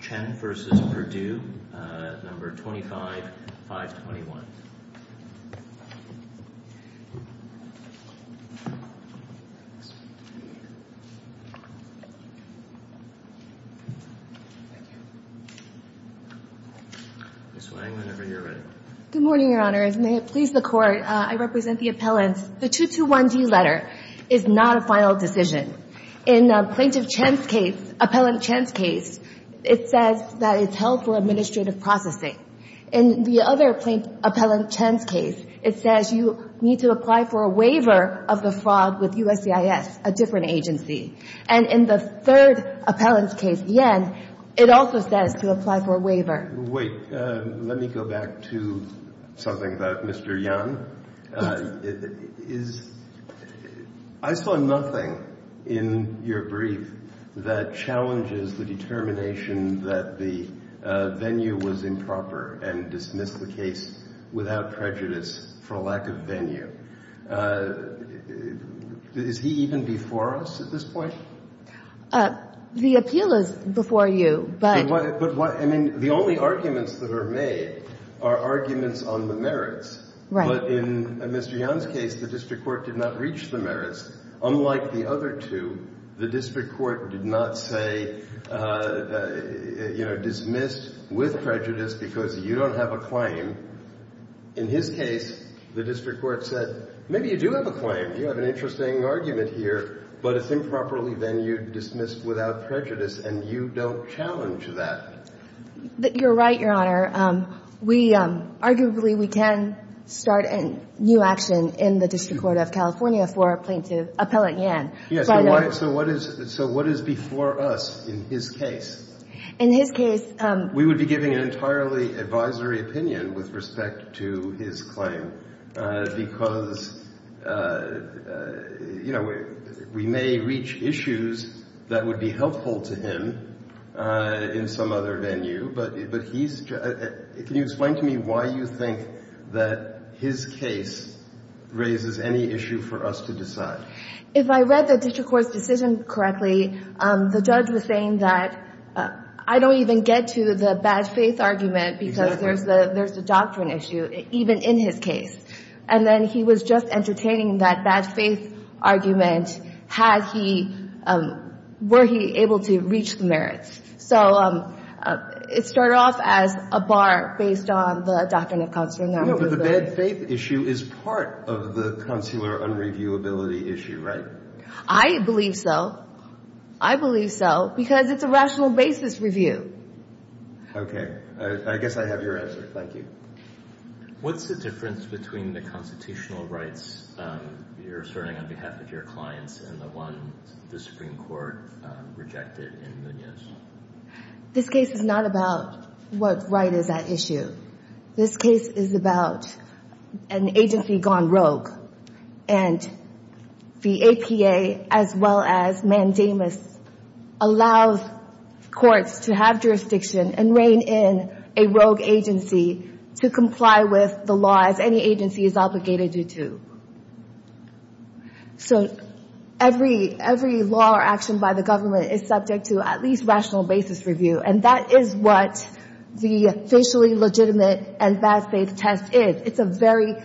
Chen v. Perdue, No. 25-521 Ms. Wang, whenever you're ready. Good morning, Your Honor. As may it please the Court, I represent the appellants. The 221D letter is not a final decision. In Plaintiff Chen's case, Appellant Chen's case, it says that it's held for administrative processing. In the other Appellant Chen's case, it says you need to apply for a waiver of the fraud with USCIS, a different agency. And in the third appellant's case, Yen, it also says to apply for a waiver. In the third appellant's case, it says you need to apply for a waiver of the fraud with USCIS, a different agency. In the third appellant's case, it says you need to apply for a waiver of the fraud with USCIS, a different agency. The only arguments that are made are arguments on the merits. But in Mr. Yen's case, the district court did not reach the merits. Unlike the other two, the district court did not say, you know, dismissed with prejudice because you don't have a claim. In his case, the district court said, maybe you do have a claim. You have an interesting argument here, but it's improperly venued, dismissed without prejudice, and you don't challenge that. You're right, Your Honor. Arguably, we can start a new action in the district court of California for a plaintiff, Appellant Yen. So what is before us in his case? In his case, we would be giving an entirely advisory opinion with respect to his claim because, you know, we may reach issues that would be helpful to him in some other venue. But he's ‑‑ can you explain to me why you think that his case raises any issue for us to decide? If I read the district court's decision correctly, the judge was saying that I don't even get to the bad faith argument because there's the doctrine issue, even in his case. And then he was just entertaining that bad faith argument, had he ‑‑ were he able to reach the merits. So it started off as a bar based on the doctrine of consular non‑reviewability. But the bad faith issue is part of the consular non‑reviewability issue, right? I believe so. I believe so because it's a rational basis review. Okay. I guess I have your answer. Thank you. What's the difference between the constitutional rights you're asserting on behalf of your clients and the one the Supreme Court rejected in Munoz? This case is not about what right is at issue. This case is about an agency gone rogue. And the APA, as well as Mandamus, allows courts to have jurisdiction and rein in a rogue agency to comply with the laws any agency is obligated to. So every law or action by the government is subject to at least rational basis review. And that is what the officially legitimate and bad faith test is. It's a very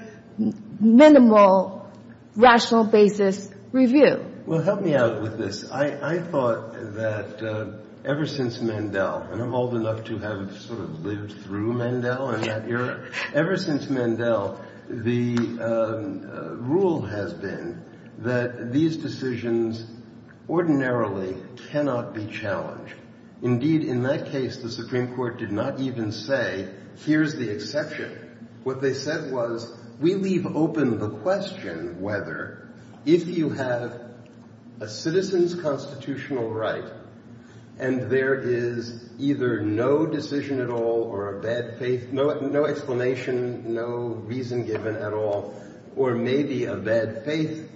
minimal rational basis review. Well, help me out with this. I thought that ever since Mandel, and I'm old enough to have sort of lived through Mandel in that era, ever since Mandel, the rule has been that these decisions ordinarily cannot be challenged. Indeed, in that case, the Supreme Court did not even say, here's the exception. What they said was, we leave open the question whether if you have a citizen's constitutional right and there is either no decision at all or a bad faith, no explanation, no reason given at all, or maybe a bad faith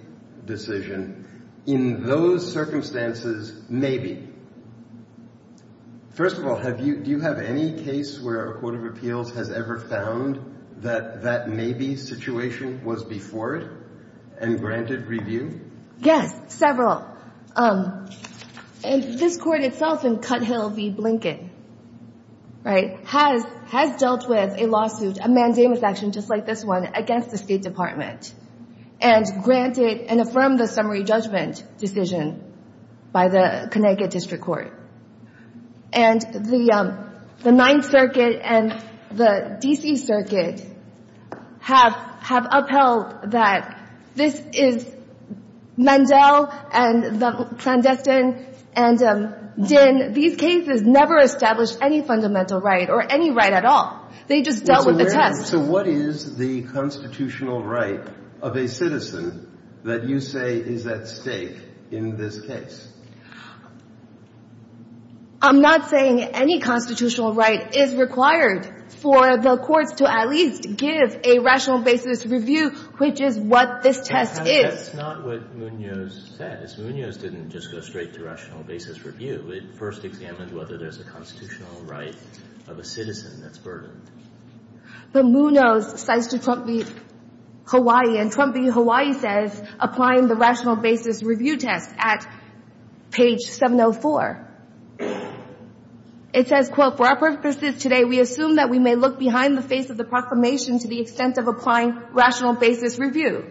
decision, in those circumstances, maybe. First of all, do you have any case where a court of appeals has ever found that that maybe situation was before it and granted review? Yes, several. And this court itself in Cuthill v. Blinken, right, has dealt with a lawsuit, a Mandamus action just like this one, and granted and affirmed the summary judgment decision by the Connecticut District Court. And the Ninth Circuit and the D.C. Circuit have upheld that this is Mandel and the clandestine, and these cases never established any fundamental right or any right at all. They just dealt with a test. So what is the constitutional right of a citizen that you say is at stake in this case? I'm not saying any constitutional right is required for the courts to at least give a rational basis review, which is what this test is. That's not what Munoz says. Munoz didn't just go straight to rational basis review. It first examined whether there's a constitutional right of a citizen that's burdened. But Munoz cites Trump v. Hawaii, and Trump v. Hawaii says applying the rational basis review test at page 704. It says, quote, For our purposes today, we assume that we may look behind the face of the proclamation to the extent of applying rational basis review,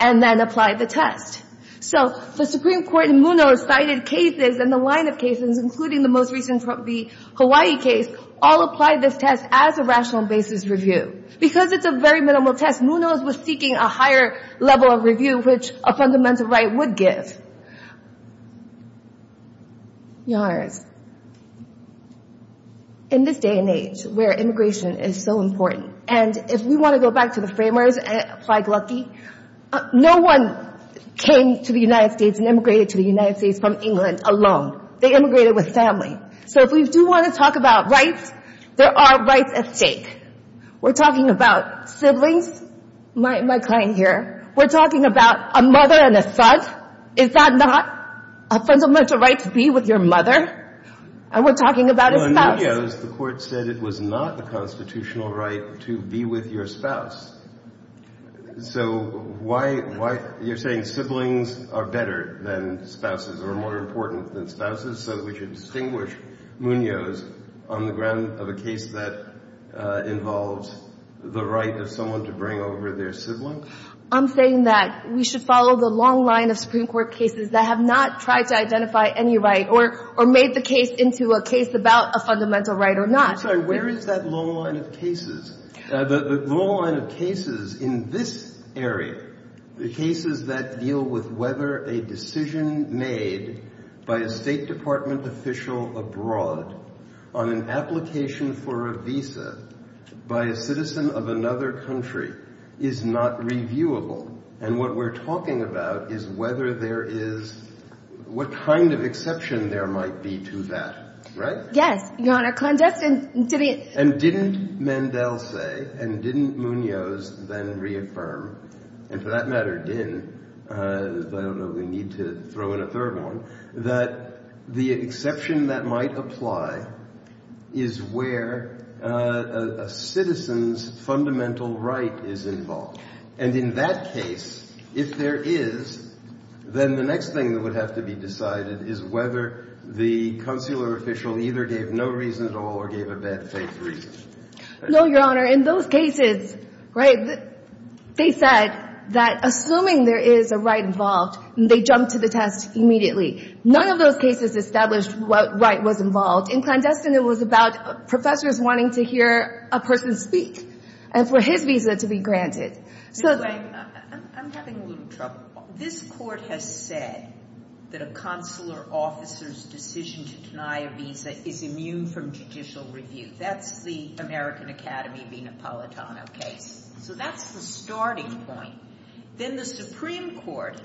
and then apply the test. So the Supreme Court in Munoz cited cases and the line of cases, including the most recent Trump v. Hawaii case, all apply this test as a rational basis review. Because it's a very minimal test, Munoz was seeking a higher level of review, which a fundamental right would give. Yars. In this day and age where immigration is so important, and if we want to go back to the framers and apply glucky, no one came to the United States and immigrated to the United States from England alone. They immigrated with family. So if we do want to talk about rights, there are rights at stake. We're talking about siblings. My client here. We're talking about a mother and a son. Is that not a fundamental right to be with your mother? And we're talking about a spouse. Well, in Munoz, the Court said it was not a constitutional right to be with your spouse. So why are you saying siblings are better than spouses or more important than spouses? So we should distinguish Munoz on the ground of a case that involves the right of someone to bring over their sibling? I'm saying that we should follow the long line of Supreme Court cases that have not tried to identify any right or made the case into a case about a fundamental right or not. I'm sorry, where is that long line of cases? The long line of cases in this area, the cases that deal with whether a decision made by a State Department official abroad on an application for a visa by a citizen of another country is not reviewable. And what we're talking about is whether there is – what kind of exception there might be to that. Right? Yes. And didn't Mendel say, and didn't Munoz then reaffirm – and for that matter, didn't, but I don't know if we need to throw in a third one – that the exception that might apply is where a citizen's fundamental right is involved. And in that case, if there is, then the next thing that would have to be decided is whether the consular official either gave no reason at all or gave a bad faith reason. No, Your Honor. In those cases, right, they said that assuming there is a right involved, they jumped to the test immediately. None of those cases established what right was involved. In clandestine, it was about professors wanting to hear a person speak and for his visa to be granted. Anyway, I'm having a little trouble. This Court has said that a consular officer's decision to deny a visa is immune from judicial review. That's the American Academy v. Napolitano case. So that's the starting point. Then the Supreme Court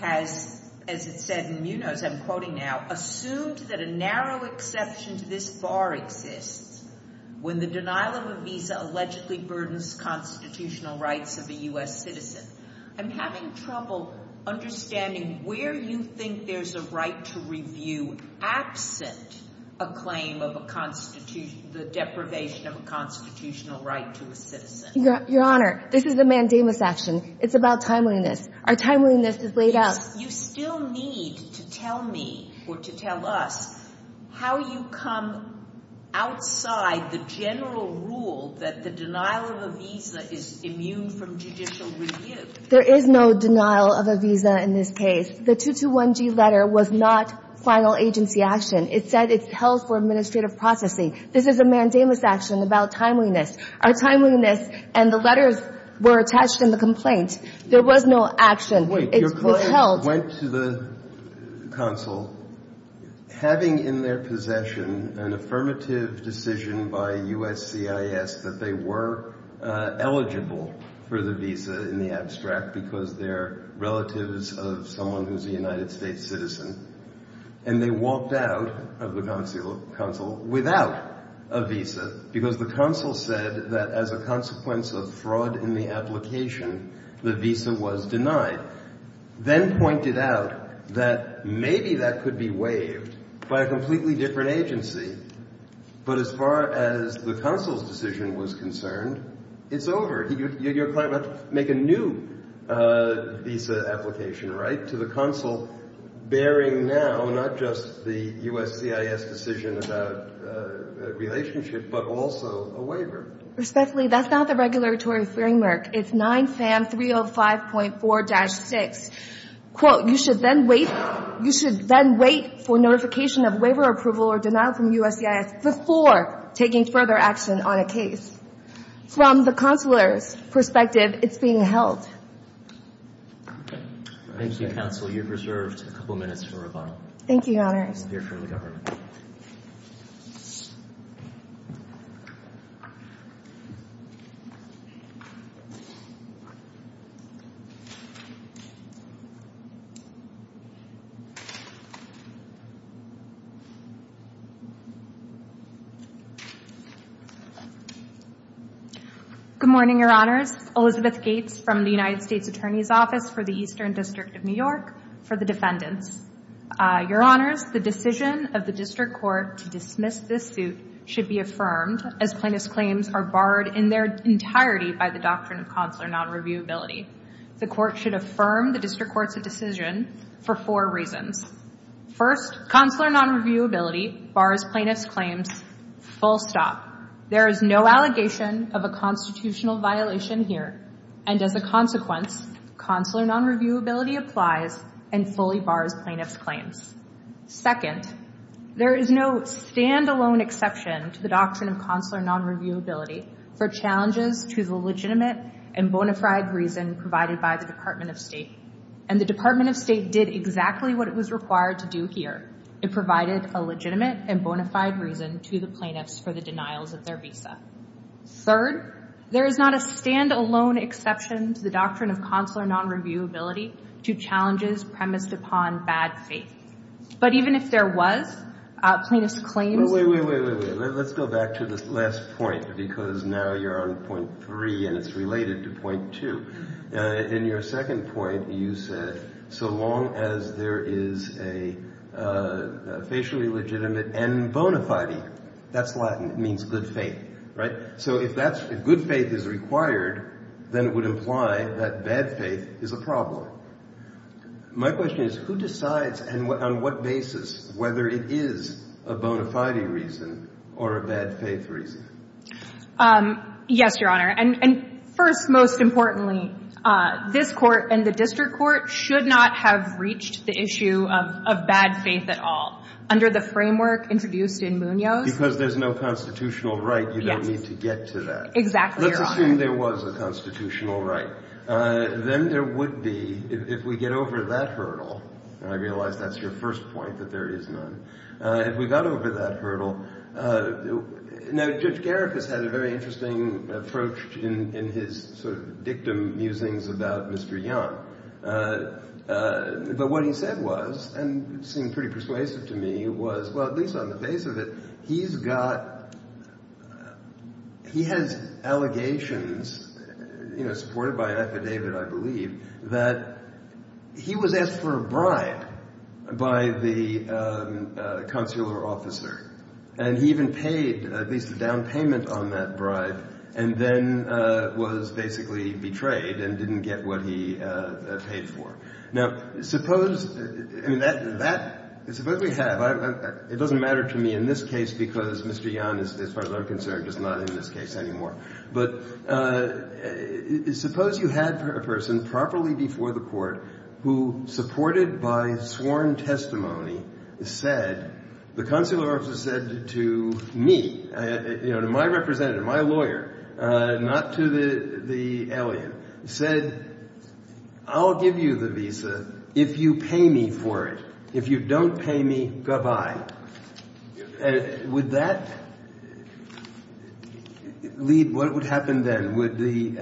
has, as it said in Munoz, I'm quoting now, assumed that a narrow exception to this bar exists when the denial of a visa allegedly burdens constitutional rights of a U.S. citizen. I'm having trouble understanding where you think there's a right to review absent a claim of a constitutional – the deprivation of a constitutional right to a citizen. Your Honor, this is a mandamus action. It's about timeliness. Our timeliness is laid out. You still need to tell me or to tell us how you come outside the general rule that the denial of a visa is immune from judicial review. There is no denial of a visa in this case. The 221G letter was not final agency action. It said it's held for administrative processing. This is a mandamus action about timeliness. Our timeliness and the letters were attached in the complaint. There was no action. It's withheld. Your client went to the consul having in their possession an affirmative decision by USCIS that they were eligible for the visa in the abstract because they're relatives of someone who's a United States citizen, and they walked out of the consul without a visa because the consul said that as a consequence of fraud in the application, the visa was denied, then pointed out that maybe that could be waived by a completely different agency. But as far as the consul's decision was concerned, it's over. Your client went to make a new visa application, right, to the consul bearing now not just the USCIS decision about a relationship, but also a waiver. Respectfully, that's not the regulatory framework. It's 9FAM 305.4-6. Quote, you should then wait for notification of waiver approval or denial from USCIS before taking further action on a case. From the consular's perspective, it's being held. Thank you, counsel. You're preserved a couple minutes for rebuttal. Thank you, Your Honor. You're clear from the government. Good morning, Your Honors. Elizabeth Gates from the United States Attorney's Office for the Eastern District of New York for the defendants. Your Honors, the decision of the district court to dismiss this suit should be affirmed, as plaintiff's claims are barred in their entirety by the doctrine of consular nonreviewability. The court should affirm the district court's decision for four reasons. First, consular nonreviewability bars plaintiff's claims full stop. There is no allegation of a constitutional violation here, and as a consequence, consular nonreviewability applies and fully bars plaintiff's claims. Second, there is no stand-alone exception to the doctrine of consular nonreviewability for challenges to the legitimate and bona fide reason provided by the Department of State, and the Department of State did exactly what it was required to do here. It provided a legitimate and bona fide reason to the plaintiffs for the denials of their visa. Third, there is not a stand-alone exception to the doctrine of consular nonreviewability to challenges premised upon bad faith. But even if there was, plaintiff's claims- Wait, wait, wait, wait. Let's go back to this last point because now you're on point three and it's related to point two. In your second point, you said so long as there is a facially legitimate and bona fide, that's Latin. It means good faith, right? So if that's – if good faith is required, then it would imply that bad faith is a problem. My question is, who decides and on what basis whether it is a bona fide reason or a bad faith reason? Yes, Your Honor. And first, most importantly, this Court and the district court should not have reached the issue of bad faith at all under the framework introduced in Munoz. Because there's no constitutional right, you don't need to get to that. Exactly, Your Honor. Let's assume there was a constitutional right. Then there would be, if we get over that hurdle, and I realize that's your first point, that there is none. If we got over that hurdle – now Judge Garik has had a very interesting approach in his sort of dictum musings about Mr. Young. But what he said was, and seemed pretty persuasive to me, was – well, at least on the face of it, he's got – he has allegations supported by an affidavit, I believe, that he was asked for a bribe by the consular officer. And he even paid at least a down payment on that bribe and then was basically betrayed and didn't get what he paid for. Now, suppose – I mean, that – suppose we have – it doesn't matter to me in this case because Mr. Young, as far as I'm concerned, is not in this case anymore. But suppose you had a person properly before the Court who, supported by sworn testimony, said – the consular officer said to me, you know, to my representative, my lawyer, not to the alien, said, I'll give you the visa if you pay me for it. If you don't pay me, goodbye. Would that lead – what would happen then? Would the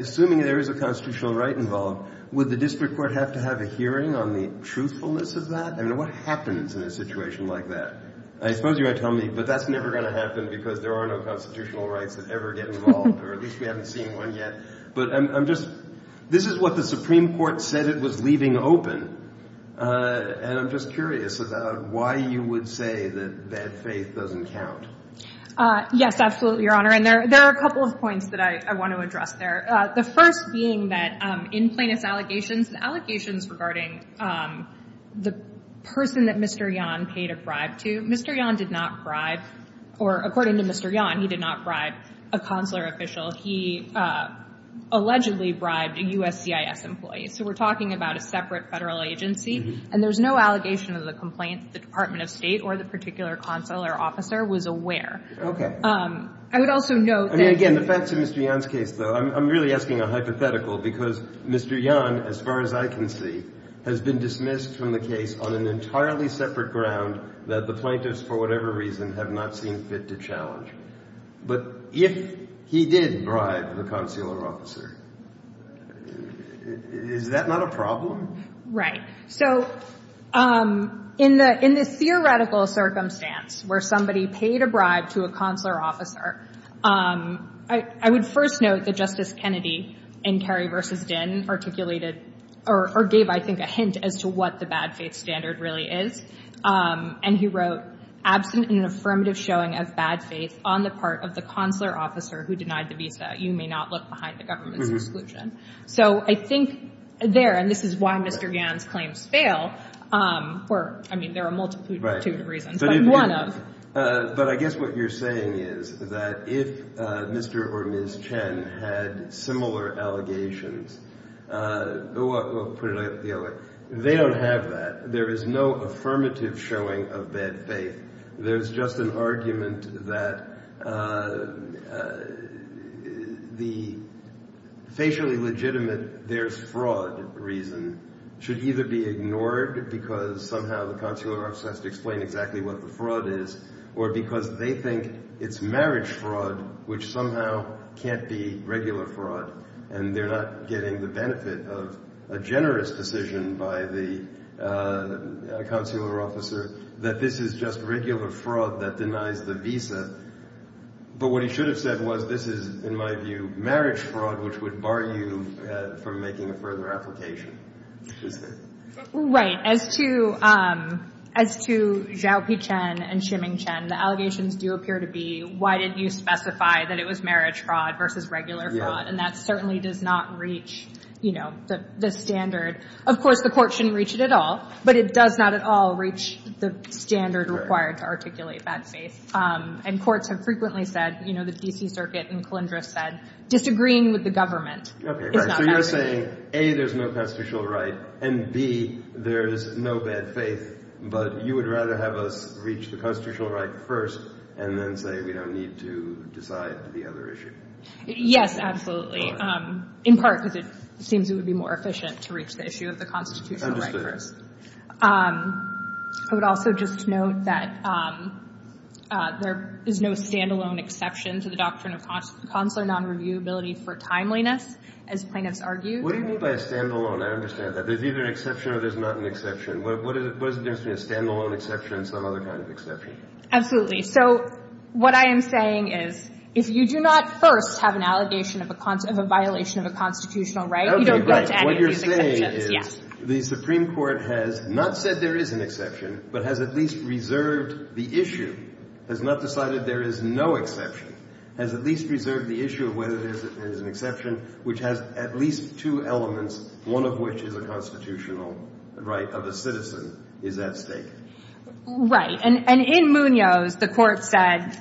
– assuming there is a constitutional right involved, would the district court have to have a hearing on the truthfulness of that? I mean, what happens in a situation like that? I suppose you're going to tell me, but that's never going to happen because there are no constitutional rights that ever get involved, or at least we haven't seen one yet. But I'm just – this is what the Supreme Court said it was leaving open. And I'm just curious about why you would say that bad faith doesn't count. Yes, absolutely, Your Honor. And there are a couple of points that I want to address there. The first being that in plaintiff's allegations, the allegations regarding the person that Mr. Yan paid a bribe to, Mr. Yan did not bribe – or according to Mr. Yan, he did not bribe a consular official. He allegedly bribed a USCIS employee. So we're talking about a separate federal agency. And there's no allegation of the complaint that the Department of State or the particular consular officer was aware. Okay. I would also note that – Getting back to Mr. Yan's case, though, I'm really asking a hypothetical because Mr. Yan, as far as I can see, has been dismissed from the case on an entirely separate ground that the plaintiffs, for whatever reason, have not seen fit to challenge. But if he did bribe the consular officer, is that not a problem? Right. So in the theoretical circumstance where somebody paid a bribe to a consular officer, I would first note that Justice Kennedy in Kerry v. Dinn articulated – or gave, I think, a hint as to what the bad faith standard really is. And he wrote, Absent an affirmative showing of bad faith on the part of the consular officer who denied the visa, you may not look behind the government's exclusion. So I think there – and this is why Mr. Yan's claims fail. I mean, there are a multitude of reasons. But one of. But I guess what you're saying is that if Mr. or Ms. Chen had similar allegations – we'll put it the other way. They don't have that. There is no affirmative showing of bad faith. There's just an argument that the facially legitimate there's fraud reason should either be ignored because somehow the consular officer has to explain exactly what the fraud is or because they think it's marriage fraud which somehow can't be regular fraud and they're not getting the benefit of a generous decision by the consular officer that this is just regular fraud that denies the visa. But what he should have said was this is, in my view, marriage fraud which would bar you from making a further application, isn't it? Right. As to Zhao Picheng and Shiming Chen, the allegations do appear to be why didn't you specify that it was marriage fraud versus regular fraud. And that certainly does not reach, you know, the standard. Of course, the court shouldn't reach it at all. But it does not at all reach the standard required to articulate bad faith. And courts have frequently said, you know, the D.C. Circuit and Calendris said, disagreeing with the government is not bad faith. Okay, right. So you're saying, A, there's no constitutional right, and, B, there's no bad faith, but you would rather have us reach the constitutional right first and then say we don't need to decide the other issue. Yes, absolutely. In part because it seems it would be more efficient to reach the issue of the constitutional right first. I would also just note that there is no stand-alone exception to the doctrine of consular non-reviewability for timeliness, as plaintiffs argue. What do you mean by a stand-alone? I understand that. There's either an exception or there's not an exception. What does it mean to be a stand-alone exception and some other kind of exception? Absolutely. So what I am saying is, if you do not first have an allegation of a violation of a constitutional right, you don't get to any of these exceptions. The court has not said there is an exception, but has at least reserved the issue, has not decided there is no exception, has at least reserved the issue of whether there is an exception, which has at least two elements, one of which is a constitutional right of a citizen is at stake. Right. And in Munoz, the court said,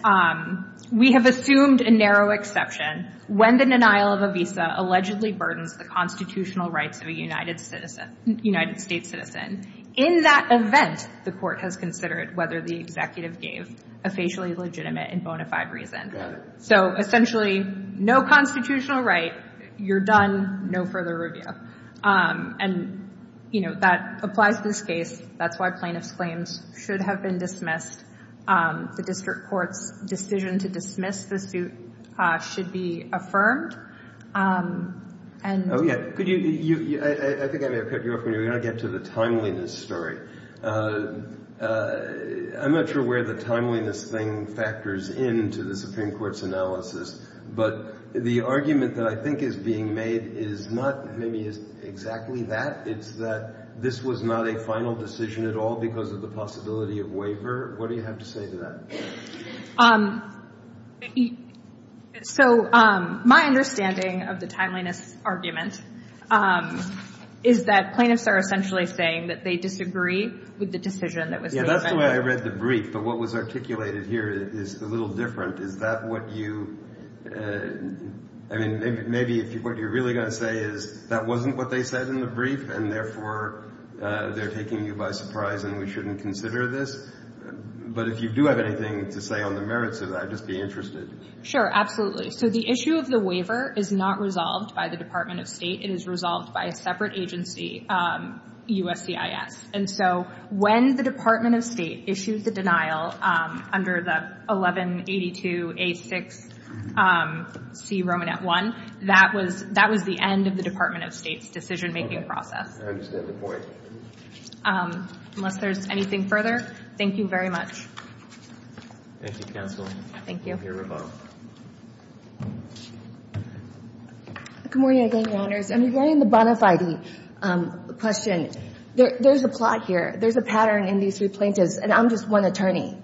We have assumed a narrow exception when the denial of a visa allegedly burdens the constitutional rights of a United States citizen. In that event, the court has considered whether the executive gave a facially legitimate and bona fide reason. Got it. So essentially, no constitutional right, you're done, no further review. And, you know, that applies to this case. That's why plaintiff's claims should have been dismissed. The district court's decision to dismiss the suit should be affirmed. Oh, yeah. I think I may have cut you off. We're going to get to the timeliness story. I'm not sure where the timeliness thing factors into the Supreme Court's analysis. But the argument that I think is being made is not maybe exactly that. It's that this was not a final decision at all because of the possibility of waiver. What do you have to say to that? So my understanding of the timeliness argument is that plaintiffs are essentially saying that they disagree with the decision that was made. Yeah, that's the way I read the brief. But what was articulated here is a little different. Is that what you – I mean, maybe what you're really going to say is that wasn't what they said in the brief, and therefore they're taking you by surprise and we shouldn't consider this. But if you do have anything to say on the merits of that, I'd just be interested. Sure, absolutely. So the issue of the waiver is not resolved by the Department of State. It is resolved by a separate agency, USCIS. And so when the Department of State issued the denial under the 1182A6C Romanet 1, that was the end of the Department of State's decision-making process. I understand the point. Unless there's anything further, thank you very much. Thank you, counsel. Thank you. Thank you, Roboto. Good morning, again, Your Honors. And regarding the bona fide question, there's a plot here. There's a pattern in these three plaintiffs, and I'm just one attorney.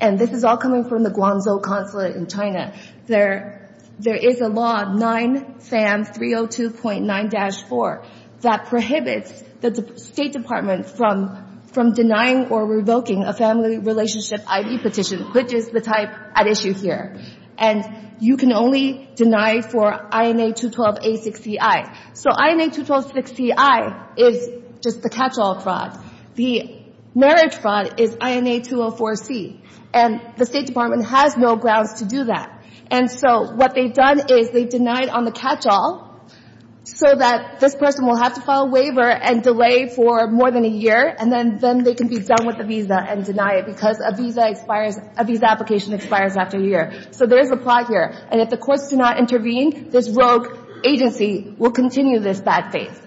And this is all coming from the Guangzhou Consulate in China. There is a law, 9FAM 302.9-4, that prohibits the State Department from denying or revoking a family relationship I.D. petition, which is the type at issue here. And you can only deny for INA 212A6CI. So INA 212A6CI is just the catch-all fraud. The marriage fraud is INA 204C. And the State Department has no grounds to do that. And so what they've done is they've denied on the catch-all so that this person will have to file a waiver and delay for more than a year, and then they can be done with the visa and deny it because a visa application expires after a year. So there is a plot here. And if the courts do not intervene, this rogue agency will continue this bad faith.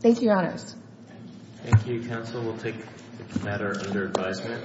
Thank you, Your Honors. Thank you, counsel. We'll take the matter under advisement.